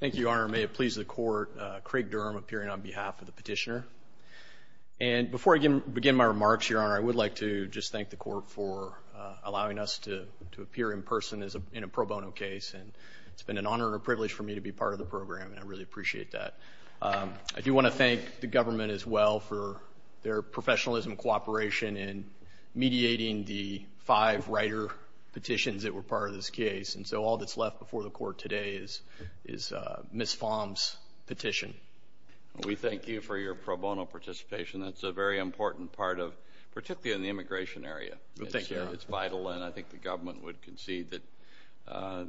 Thank you, Your Honor. May it please the Court, Craig Durham appearing on behalf of the petitioner. And before I begin my remarks, Your Honor, I would like to just thank the Court for allowing us to appear in person in a pro bono case. And it's been an honor and a privilege for me to be part of the program, and I really appreciate that. I do want to thank the government as well for their professionalism and cooperation in mediating the five writer petitions that were part of this case. And so all that's left before the Court today is Ms. Pham's petition. We thank you for your pro bono participation. That's a very important part of – particularly in the immigration area. Thank you, Your Honor. It's vital, and I think the government would concede that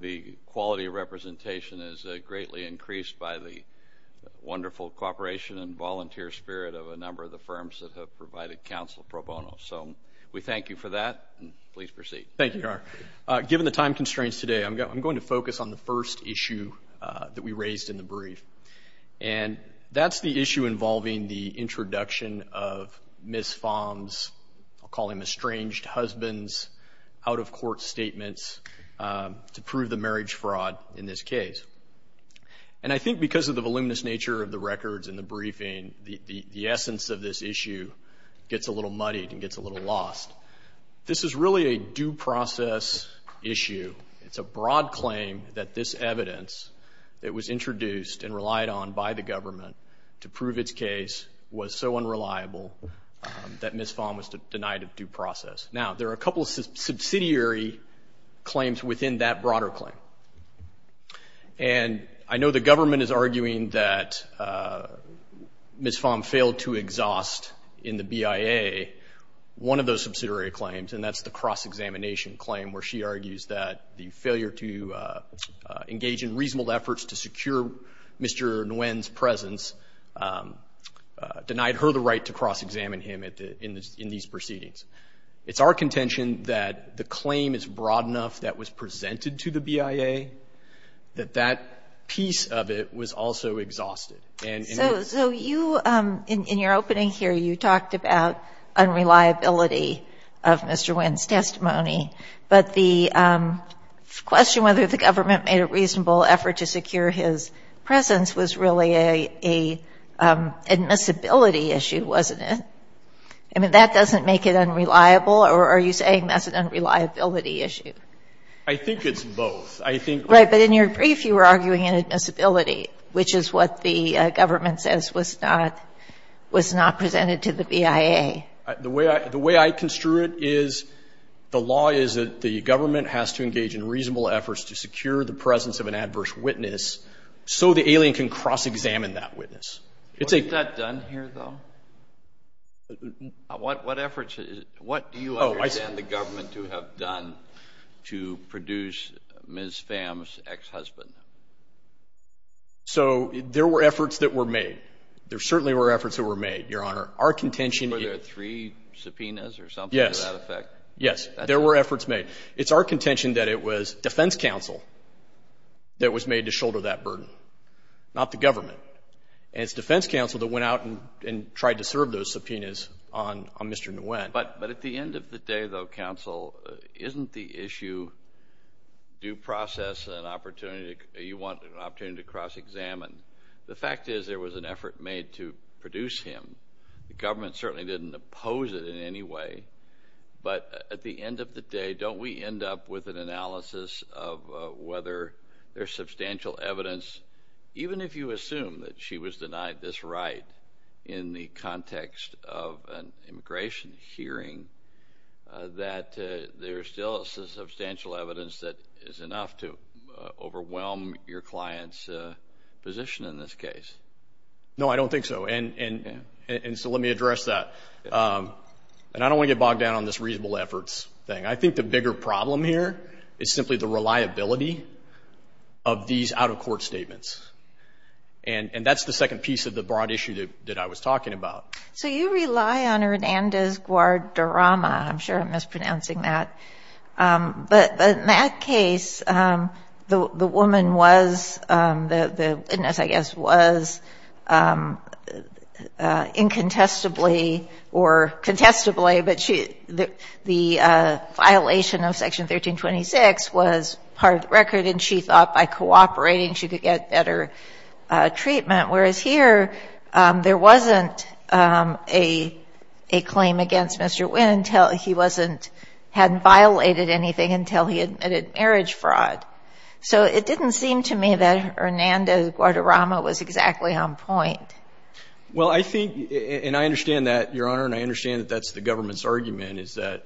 the quality of representation is greatly increased by the wonderful cooperation and volunteer spirit of a number of the firms that have provided counsel pro bono. So we thank you for that, and please proceed. Thank you, Your Honor. Given the time constraints today, I'm going to focus on the first issue that we raised in the brief, and that's the issue involving the introduction of Ms. Pham's – I'll call him estranged husband's – out-of-court statements to prove the marriage fraud in this case. And I think because of the voluminous nature of the records in the briefing, the essence of this issue gets a little muddied and gets a little lost. This is really a due process issue. It's a broad claim that this evidence that was introduced and relied on by the government to prove its case was so unreliable that Ms. Pham was denied a due process. Now, there are a couple of subsidiary claims within that broader claim. And I know the government is arguing that Ms. Pham failed to exhaust in the BIA one of those subsidiary claims, and that's the cross-examination claim, where she argues that the failure to engage in reasonable efforts to secure Mr. Nguyen's presence denied her the right to cross-examine him in these proceedings. It's our contention that the claim is broad enough that was presented to the BIA, that that piece of it was also exhausted. And in this case, Ms. Pham was denied a due process. And I know the government is arguing that Ms. Pham failed to exhaust in the BIA one of those subsidiary claims, and that's the cross-examination claim, where she argues that the failure to engage in reasonable efforts to secure Mr. Nguyen's presence denied her the right to cross-examine him in these proceedings. And in this case, Ms. Pham failed to exhaust in the BIA one of those subsidiary claims that the government says was not presented to the BIA. The way I construe it is the law is that the government has to engage in reasonable efforts to secure the presence of an adverse witness so the alien can cross-examine that witness. Was that done here, though? What efforts? What do you understand the government to have done to produce Ms. Pham's ex-husband? So there were efforts that were made. There certainly were efforts that were made, Your Honor. Our contention... Were there three subpoenas or something to that effect? Yes. Yes. There were efforts made. It's our contention that it was defense counsel that was made to shoulder that burden, not the government. And it's defense counsel that went out and tried to serve those subpoenas on Mr. Nguyen. But at the end of the day, though, counsel, isn't the issue due process and an opportunity to cross-examine? The fact is there was an effort made to produce him. The government certainly didn't oppose it in any way. But at the end of the day, don't we end up with an analysis of whether there's substantial evidence, even if you assume that she was denied this right in the context of an immigration hearing, that there's still substantial evidence that is enough to overwhelm your client's position in this case? No, I don't think so. And so let me address that. And I don't want to get bogged down on this reasonable efforts thing. I think the bigger problem here is simply the reliability of these out-of-court statements. And that's the second piece of the broad issue that I was talking about. So you rely on Hernandez-Guardarama. I'm sure I'm mispronouncing that. But in that case, the woman was the witness, I guess, was incontestably or contestably, but the violation of Section 1326 was part of the record, and she thought by cooperating she could get better treatment, whereas here there wasn't a claim against Mr. Nguyen until he hadn't violated anything, until he admitted marriage fraud. So it didn't seem to me that Hernandez-Guardarama was exactly on point. Well, I think, and I understand that, Your Honor, and I understand that that's the government's argument, is that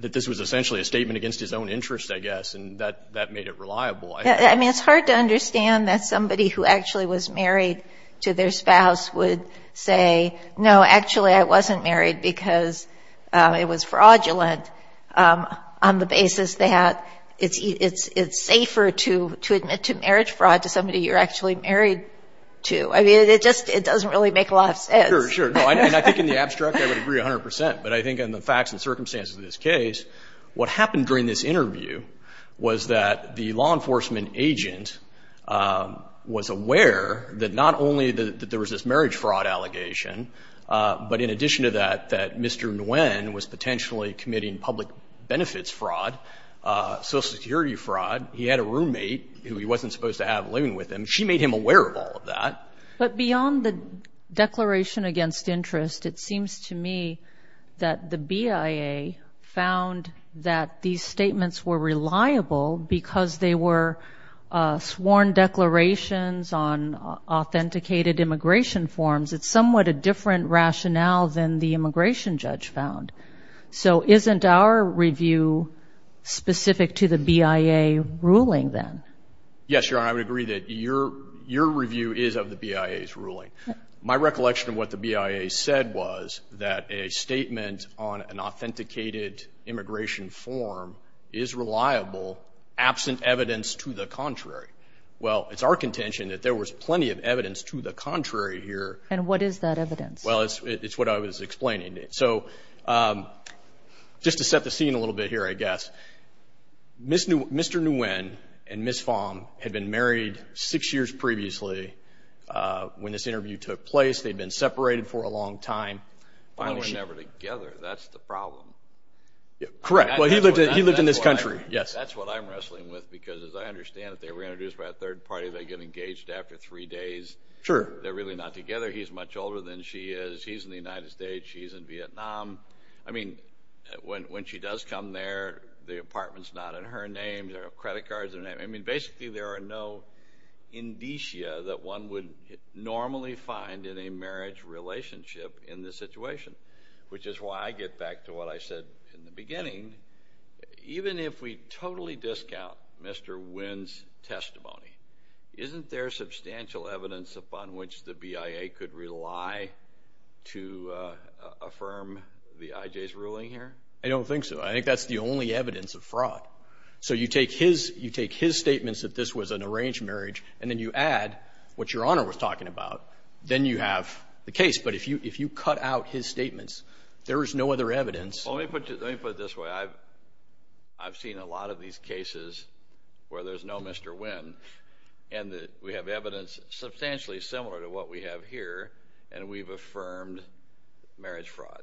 this was essentially a statement against his own interests, I guess, and that made it reliable. I mean, it's hard to understand that somebody who actually was married to their spouse would say, no, actually I wasn't married because it was fraudulent on the basis that it's safer to admit to marriage fraud to somebody you're actually married to. I mean, it just doesn't really make a lot of sense. Sure, sure. No, and I think in the abstract I would agree 100 percent. But I think in the facts and circumstances of this case, what happened during this interview was that the law enforcement agent was aware that not only that there was this marriage fraud allegation, but in addition to that, that Mr. Nguyen was potentially committing public benefits fraud, Social Security fraud. He had a roommate who he wasn't supposed to have living with him. She made him aware of all of that. But beyond the declaration against interest, it seems to me that the BIA found that these statements were reliable because they were sworn declarations on authenticated immigration forms. It's somewhat a different rationale than the immigration judge found. So isn't our review specific to the BIA ruling then? Yes, Your Honor, I would agree that your review is of the BIA's ruling. My recollection of what the BIA said was that a statement on an authenticated immigration form is reliable, absent evidence to the contrary. Well, it's our contention that there was plenty of evidence to the contrary here. And what is that evidence? Well, it's what I was explaining. So just to set the scene a little bit here, I guess, Mr. Nguyen and Ms. Fong had been married six years previously when this interview took place. They'd been separated for a long time. Well, they were never together. That's the problem. Correct. Well, he lived in this country. That's what I'm wrestling with because, as I understand it, they were introduced by a third party. They get engaged after three days. Sure. They're really not together. He's much older than she is. He's in the United States. She's in Vietnam. I mean, when she does come there, the apartment's not in her name. There are credit cards in her name. I mean, basically, there are no indicia that one would normally find in a marriage relationship in this situation, which is why I get back to what I said in the beginning. Even if we totally discount Mr. Nguyen's testimony, isn't there substantial evidence upon which the BIA could rely to affirm the IJ's ruling here? I don't think so. I think that's the only evidence of fraud. So you take his statements that this was an arranged marriage, and then you add what Your Honor was talking about, then you have the case. But if you cut out his statements, there is no other evidence. Let me put it this way. I've seen a lot of these cases where there's no Mr. Nguyen, and we have evidence substantially similar to what we have here, and we've affirmed marriage fraud.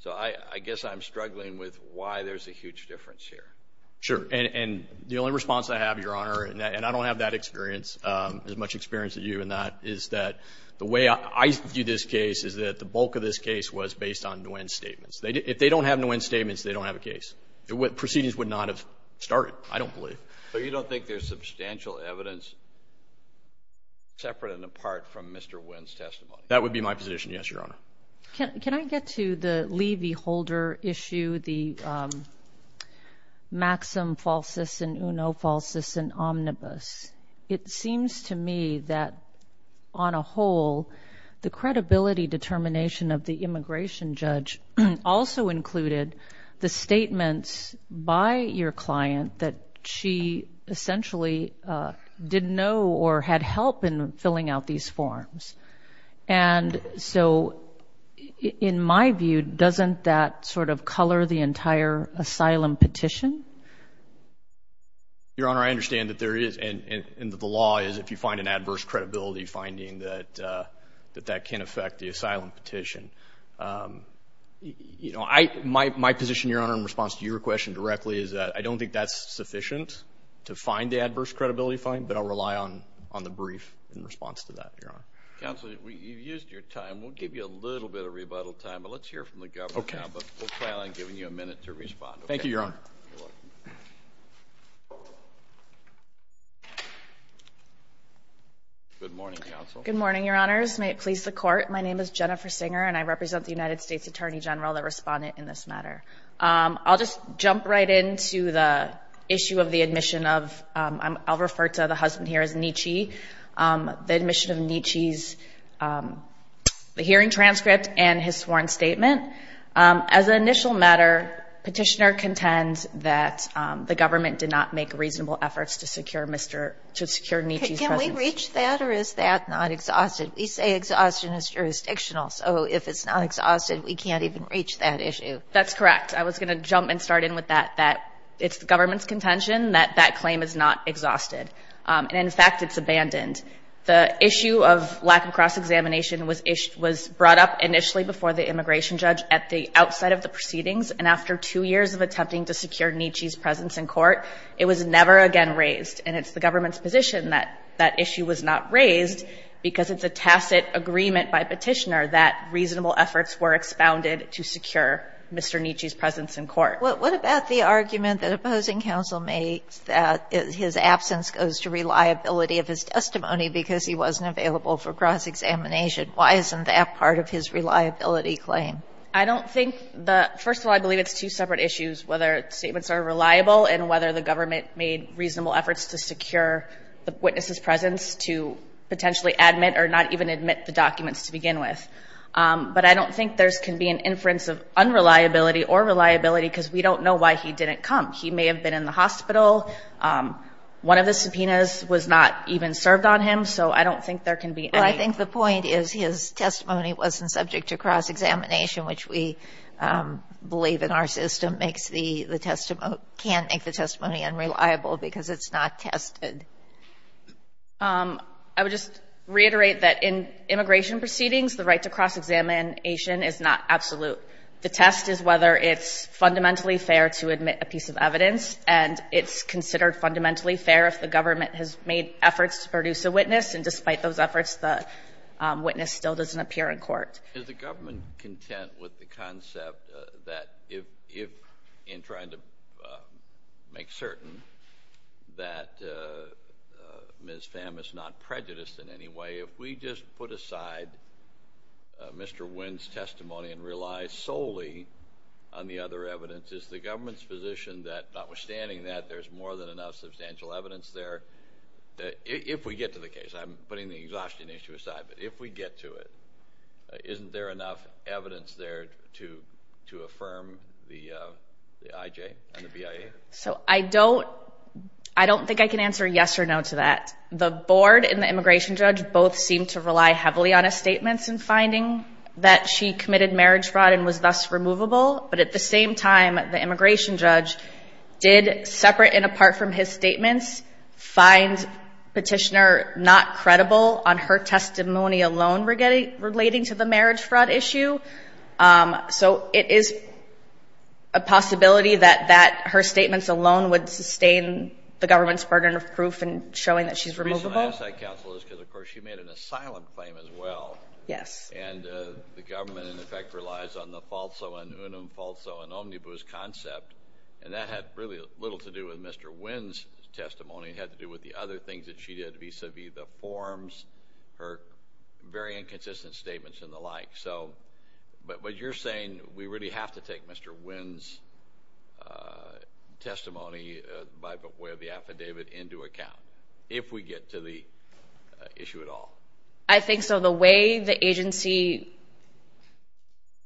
So I guess I'm struggling with why there's a huge difference here. Sure. And the only response I have, Your Honor, and I don't have that experience, as much experience as you in that, is that the way I view this case is that the bulk of this case was based on Nguyen's statements. If they don't have Nguyen's statements, they don't have a case. Proceedings would not have started, I don't believe. So you don't think there's substantial evidence separate and apart from Mr. Nguyen's testimony? That would be my position, yes, Your Honor. Can I get to the Lee v. Holder issue, the maxim falsis in uno, falsis in omnibus? It seems to me that, on a whole, the credibility determination of the immigration judge also included the statements by your client that she essentially didn't know or had help in filling out these forms. And so in my view, doesn't that sort of color the entire asylum petition? Your Honor, I understand that there is, and that the law is if you find an adverse credibility finding that that can affect the asylum petition. My position, Your Honor, in response to your question directly, is that I don't think that's sufficient to find the adverse credibility finding, but I'll rely on the brief in response to that, Your Honor. Counsel, you've used your time. We'll give you a little bit of rebuttal time, but let's hear from the government now. But we'll try not to give you a minute to respond. Thank you, Your Honor. Good morning, Counsel. Good morning, Your Honors. May it please the Court, my name is Jennifer Singer, and I represent the United States Attorney General, the respondent in this matter. I'll just jump right into the issue of the admission of, I'll refer to the husband here as Nietzsche, the admission of Nietzsche's hearing transcript and his sworn statement. As an initial matter, petitioner contends that the government did not make reasonable efforts to secure Nietzsche's presence. Can we reach that or is that not exhaustive? We say exhaustion is jurisdictional, so if it's not exhaustive, we can't even reach that issue. That's correct. I was going to jump and start in with that, that it's the government's contention that that claim is not exhausted. And, in fact, it's abandoned. The issue of lack of cross-examination was brought up initially before the immigration judge at the outside of the proceedings, and after two years of attempting to secure Nietzsche's presence in court, it was never again raised. And it's the government's position that that issue was not raised because it's a tacit agreement by petitioner that Nietzsche's presence in court. What about the argument that opposing counsel makes that his absence goes to reliability of his testimony because he wasn't available for cross-examination? Why isn't that part of his reliability claim? I don't think the – first of all, I believe it's two separate issues, whether statements are reliable and whether the government made reasonable efforts to secure the witness's presence to potentially admit or not even admit the documents to begin with. But I don't think there can be an inference of unreliability or reliability because we don't know why he didn't come. He may have been in the hospital. One of the subpoenas was not even served on him, so I don't think there can be any – Well, I think the point is his testimony wasn't subject to cross-examination, which we believe in our system makes the – can make the testimony unreliable because it's not tested. I would just reiterate that in immigration proceedings, the right to cross-examination is not absolute. The test is whether it's fundamentally fair to admit a piece of evidence, and it's considered fundamentally fair if the government has made efforts to produce a witness, and despite those efforts, the witness still doesn't appear in court. Is the government content with the concept that if, in trying to make certain that Ms. Pham is not prejudiced in any way, if we just put aside Mr. Nguyen's testimony and rely solely on the other evidence, is the government's position that, notwithstanding that, there's more than enough substantial evidence there, if we get to the case, I'm putting the exhaustion issue aside, but if we get to it, isn't there enough evidence there to affirm the IJ and the BIA? So I don't – I don't think I can answer yes or no to that. The board and the immigration judge both seem to rely heavily on his statements in finding that she committed marriage fraud and was thus removable, but at the same time, the immigration judge did, separate and apart from his statements, find Petitioner not credible on her testimony alone relating to the marriage fraud issue. So it is a possibility that her statements alone would sustain the government's burden of proof in showing that she's removable. The reason I ask that, Counsel, is because, of course, she made an asylum claim as well. Yes. And the government, in effect, relies on the falso and unum falso and omnibus concept, and that had really little to do with Mr. Nguyen's testimony. It had to do with the other things that she did vis-à-vis the forms, her very inconsistent statements and the like. So – but what you're saying, we really have to take Mr. Nguyen's testimony by way of the affidavit into account, if we get to the issue at all. I think so. The way the agency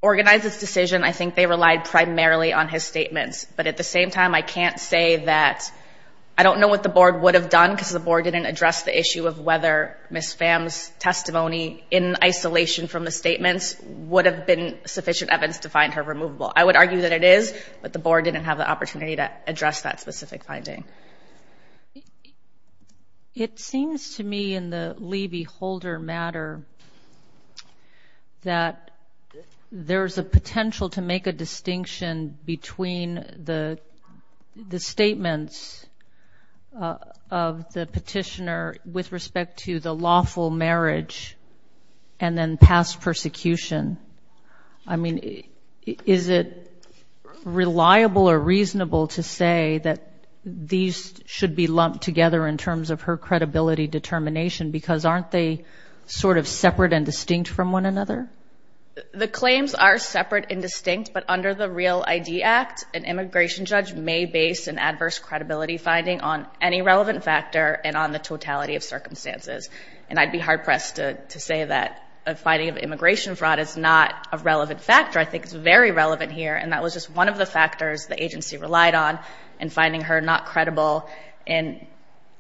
organized its decision, I think they relied primarily on his statements. But at the same time, I can't say that – I don't know what the Board would have done, because the Board didn't address the issue of whether Ms. Pham's testimony, in isolation from the statements, would have been sufficient evidence to find her removable. I would argue that it is, but the Board didn't have the opportunity to address that specific finding. It seems to me, in the Lee v. Holder matter, that there's a potential to make a distinction between the statements of the petitioner with respect to the lawful marriage and then past persecution. I mean, is it reliable or reasonable to say that these should be lumped together in terms of her credibility determination, because aren't they sort of separate and distinct from one another? The claims are separate and distinct, but under the REAL ID Act, an immigration judge may base an adverse credibility finding on any relevant factor and on the totality of circumstances. And I'd be hard-pressed to say that a finding of immigration fraud is not a relevant factor. I think it's very relevant here, and that was just one of the factors the agency relied on in finding her not credible in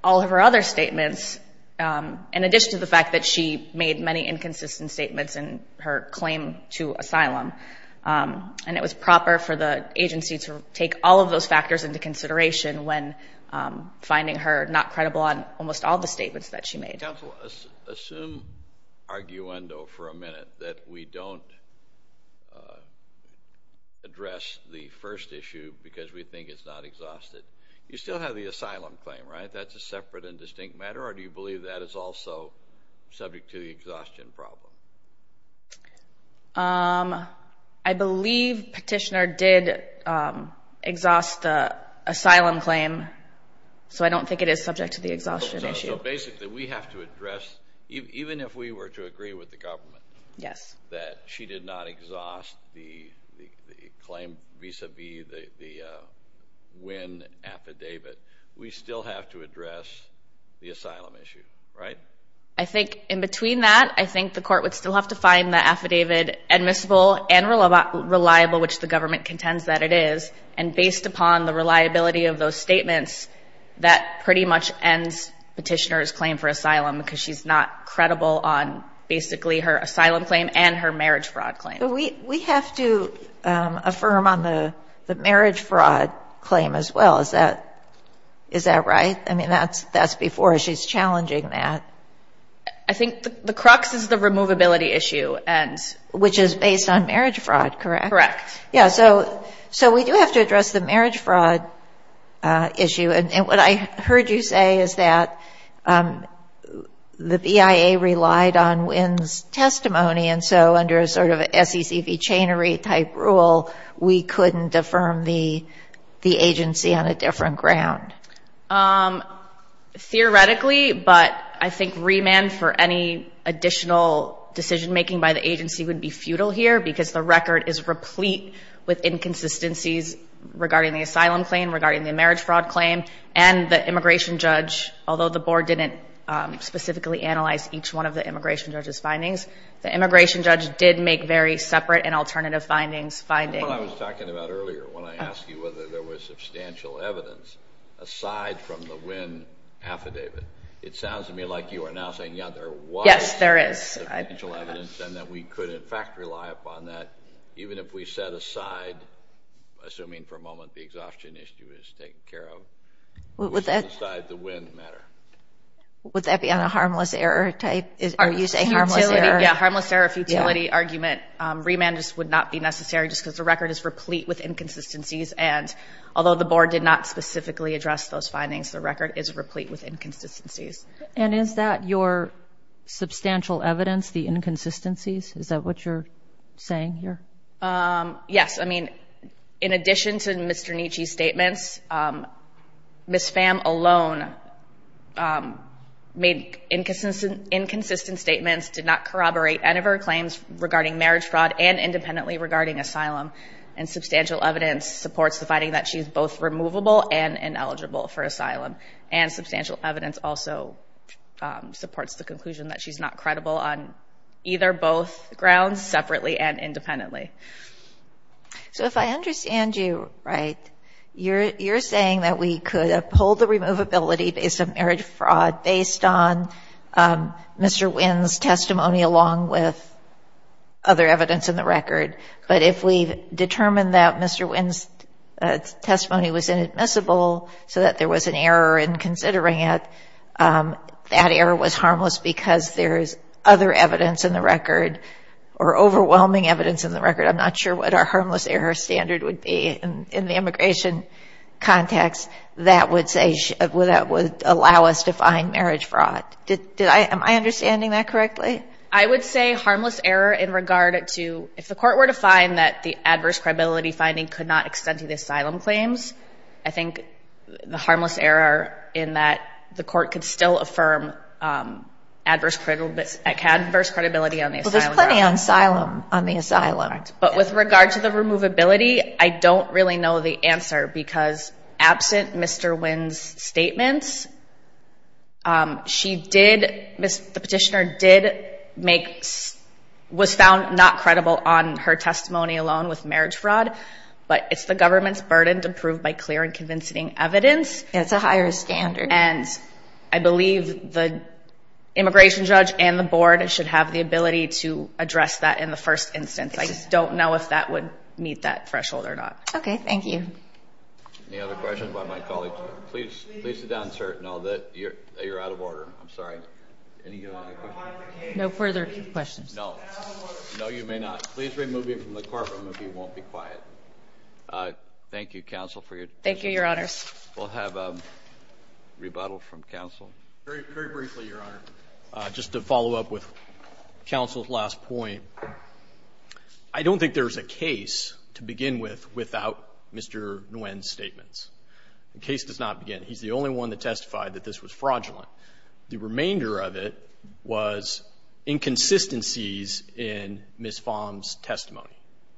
all of her other statements, in addition to the fact that she made many inconsistent statements in her claim to asylum. And it was proper for the agency to take all of those factors into consideration when finding her not credible on almost all of the statements that she made. Counsel, assume arguendo for a minute that we don't address the first issue because we think it's not exhausted. You still have the asylum claim, right? That's a separate and distinct matter, or do you believe that is also subject to the exhaustion problem? I believe Petitioner did exhaust the asylum claim, so I don't think it is subject to the exhaustion issue. So basically we have to address, even if we were to agree with the government that she did not exhaust the claim vis-a-vis the Wynn affidavit, we still have to address the asylum issue, right? I think in between that, I think the court would still have to find the affidavit admissible and reliable, which the government contends that it is. And based upon the reliability of those statements, that pretty much ends Petitioner's claim for asylum because she's not credible on basically her asylum claim and her marriage fraud claim. We have to affirm on the marriage fraud claim as well. Is that right? I mean, that's before she's challenging that. I think the crux is the removability issue. Which is based on marriage fraud, correct? Correct. Yeah, so we do have to address the marriage fraud issue. And what I heard you say is that the BIA relied on Wynn's testimony, and so under a sort of SECV chainery-type rule, we couldn't affirm the agency on a different ground. Theoretically, but I think remand for any additional decision-making by the agency would be futile here because the record is replete with inconsistencies regarding the asylum claim, regarding the marriage fraud claim, and the immigration judge, although the board didn't specifically analyze each one of the immigration judge's findings, the immigration judge did make very separate and alternative findings. That's what I was talking about earlier when I asked you whether there was substantial evidence aside from the Wynn affidavit. It sounds to me like you are now saying, yeah, there was substantial evidence and that we could, in fact, rely upon that even if we set aside, assuming for a moment the exhaustion issue is taken care of, which is beside the Wynn matter. Would that be on a harmless error type? Yeah, harmless error, futility argument. Remand just would not be necessary just because the record is replete with inconsistencies, and although the board did not specifically address those findings, the record is replete with inconsistencies. And is that your substantial evidence, the inconsistencies? Is that what you're saying here? Yes. In addition to Mr. Nietzsche's statements, Ms. Pham alone made inconsistent statements, did not corroborate any of her claims regarding marriage fraud and independently regarding asylum, and substantial evidence supports the finding that she is both removable and ineligible for asylum, and substantial evidence also supports the conclusion that she's not credible on either both grounds, separately and independently. So if I understand you right, you're saying that we could uphold the removability based on marriage fraud based on Mr. Wynn's testimony along with other evidence in the record, but if we determine that Mr. Wynn's testimony was inadmissible so that there was an error in considering it, that error was harmless because there is other evidence in the record or overwhelming evidence in the record, I'm not sure what our harmless error standard would be in the immigration context that would allow us to find marriage fraud. Am I understanding that correctly? I would say harmless error in regard to, if the court were to find that the adverse credibility finding could not extend to the asylum claims, I think the harmless error in that the court could still affirm adverse credibility on the asylum grounds. Well, there's plenty on asylum, on the asylum. But with regard to the removability, I don't really know the answer because absent Mr. Wynn's statements, she did, the petitioner did make, was found not credible on her testimony alone with marriage fraud, but it's the government's burden to prove by clear and convincing evidence. It's a higher standard. And I believe the immigration judge and the board should have the ability to address that in the first instance. I just don't know if that would meet that threshold or not. Okay, thank you. Any other questions by my colleagues? Please sit down, sir. No, you're out of order. I'm sorry. Any other questions? No further questions. No, you may not. Please remove him from the courtroom if he won't be quiet. Thank you, counsel, for your testimony. Thank you, Your Honors. We'll have a rebuttal from counsel. Very briefly, Your Honor, just to follow up with counsel's last point, I don't think there's a case to begin with without Mr. Wynn's statements. The case does not begin. He's the only one that testified that this was fraudulent. The remainder of it was inconsistencies in Ms. Fahm's testimony.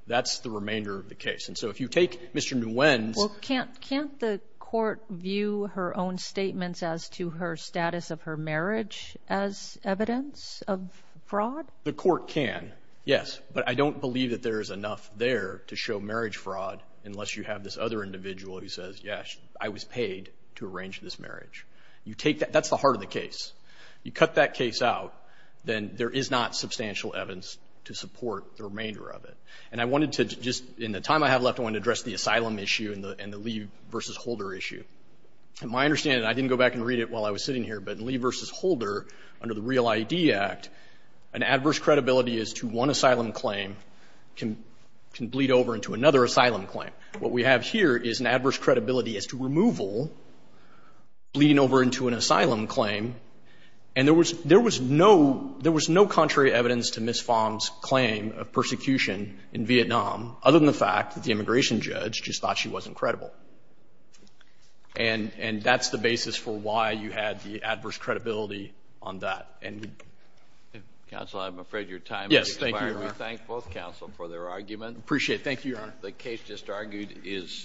That's the remainder of the case. And so if you take Mr. Nguyen's – Well, can't the court view her own statements as to her status of her marriage as evidence of fraud? The court can, yes. But I don't believe that there is enough there to show marriage fraud unless you have this other individual who says, yes, I was paid to arrange this marriage. That's the heart of the case. You cut that case out, then there is not substantial evidence to support the remainder of it. And I wanted to just, in the time I have left, I want to address the asylum issue and the Lee v. Holder issue. My understanding, and I didn't go back and read it while I was sitting here, but in Lee v. Holder, under the REAL ID Act, an adverse credibility as to one asylum claim can bleed over into another asylum claim. What we have here is an adverse credibility as to removal bleeding over into an asylum claim. And there was no contrary evidence to Ms. Pham's claim of persecution in Vietnam other than the fact that the immigration judge just thought she wasn't credible. And that's the basis for why you had the adverse credibility on that. Counsel, I'm afraid your time has expired. Yes, thank you, Your Honor. We thank both counsel for their argument. Appreciate it. Thank you, Your Honor. The case just argued is submitted.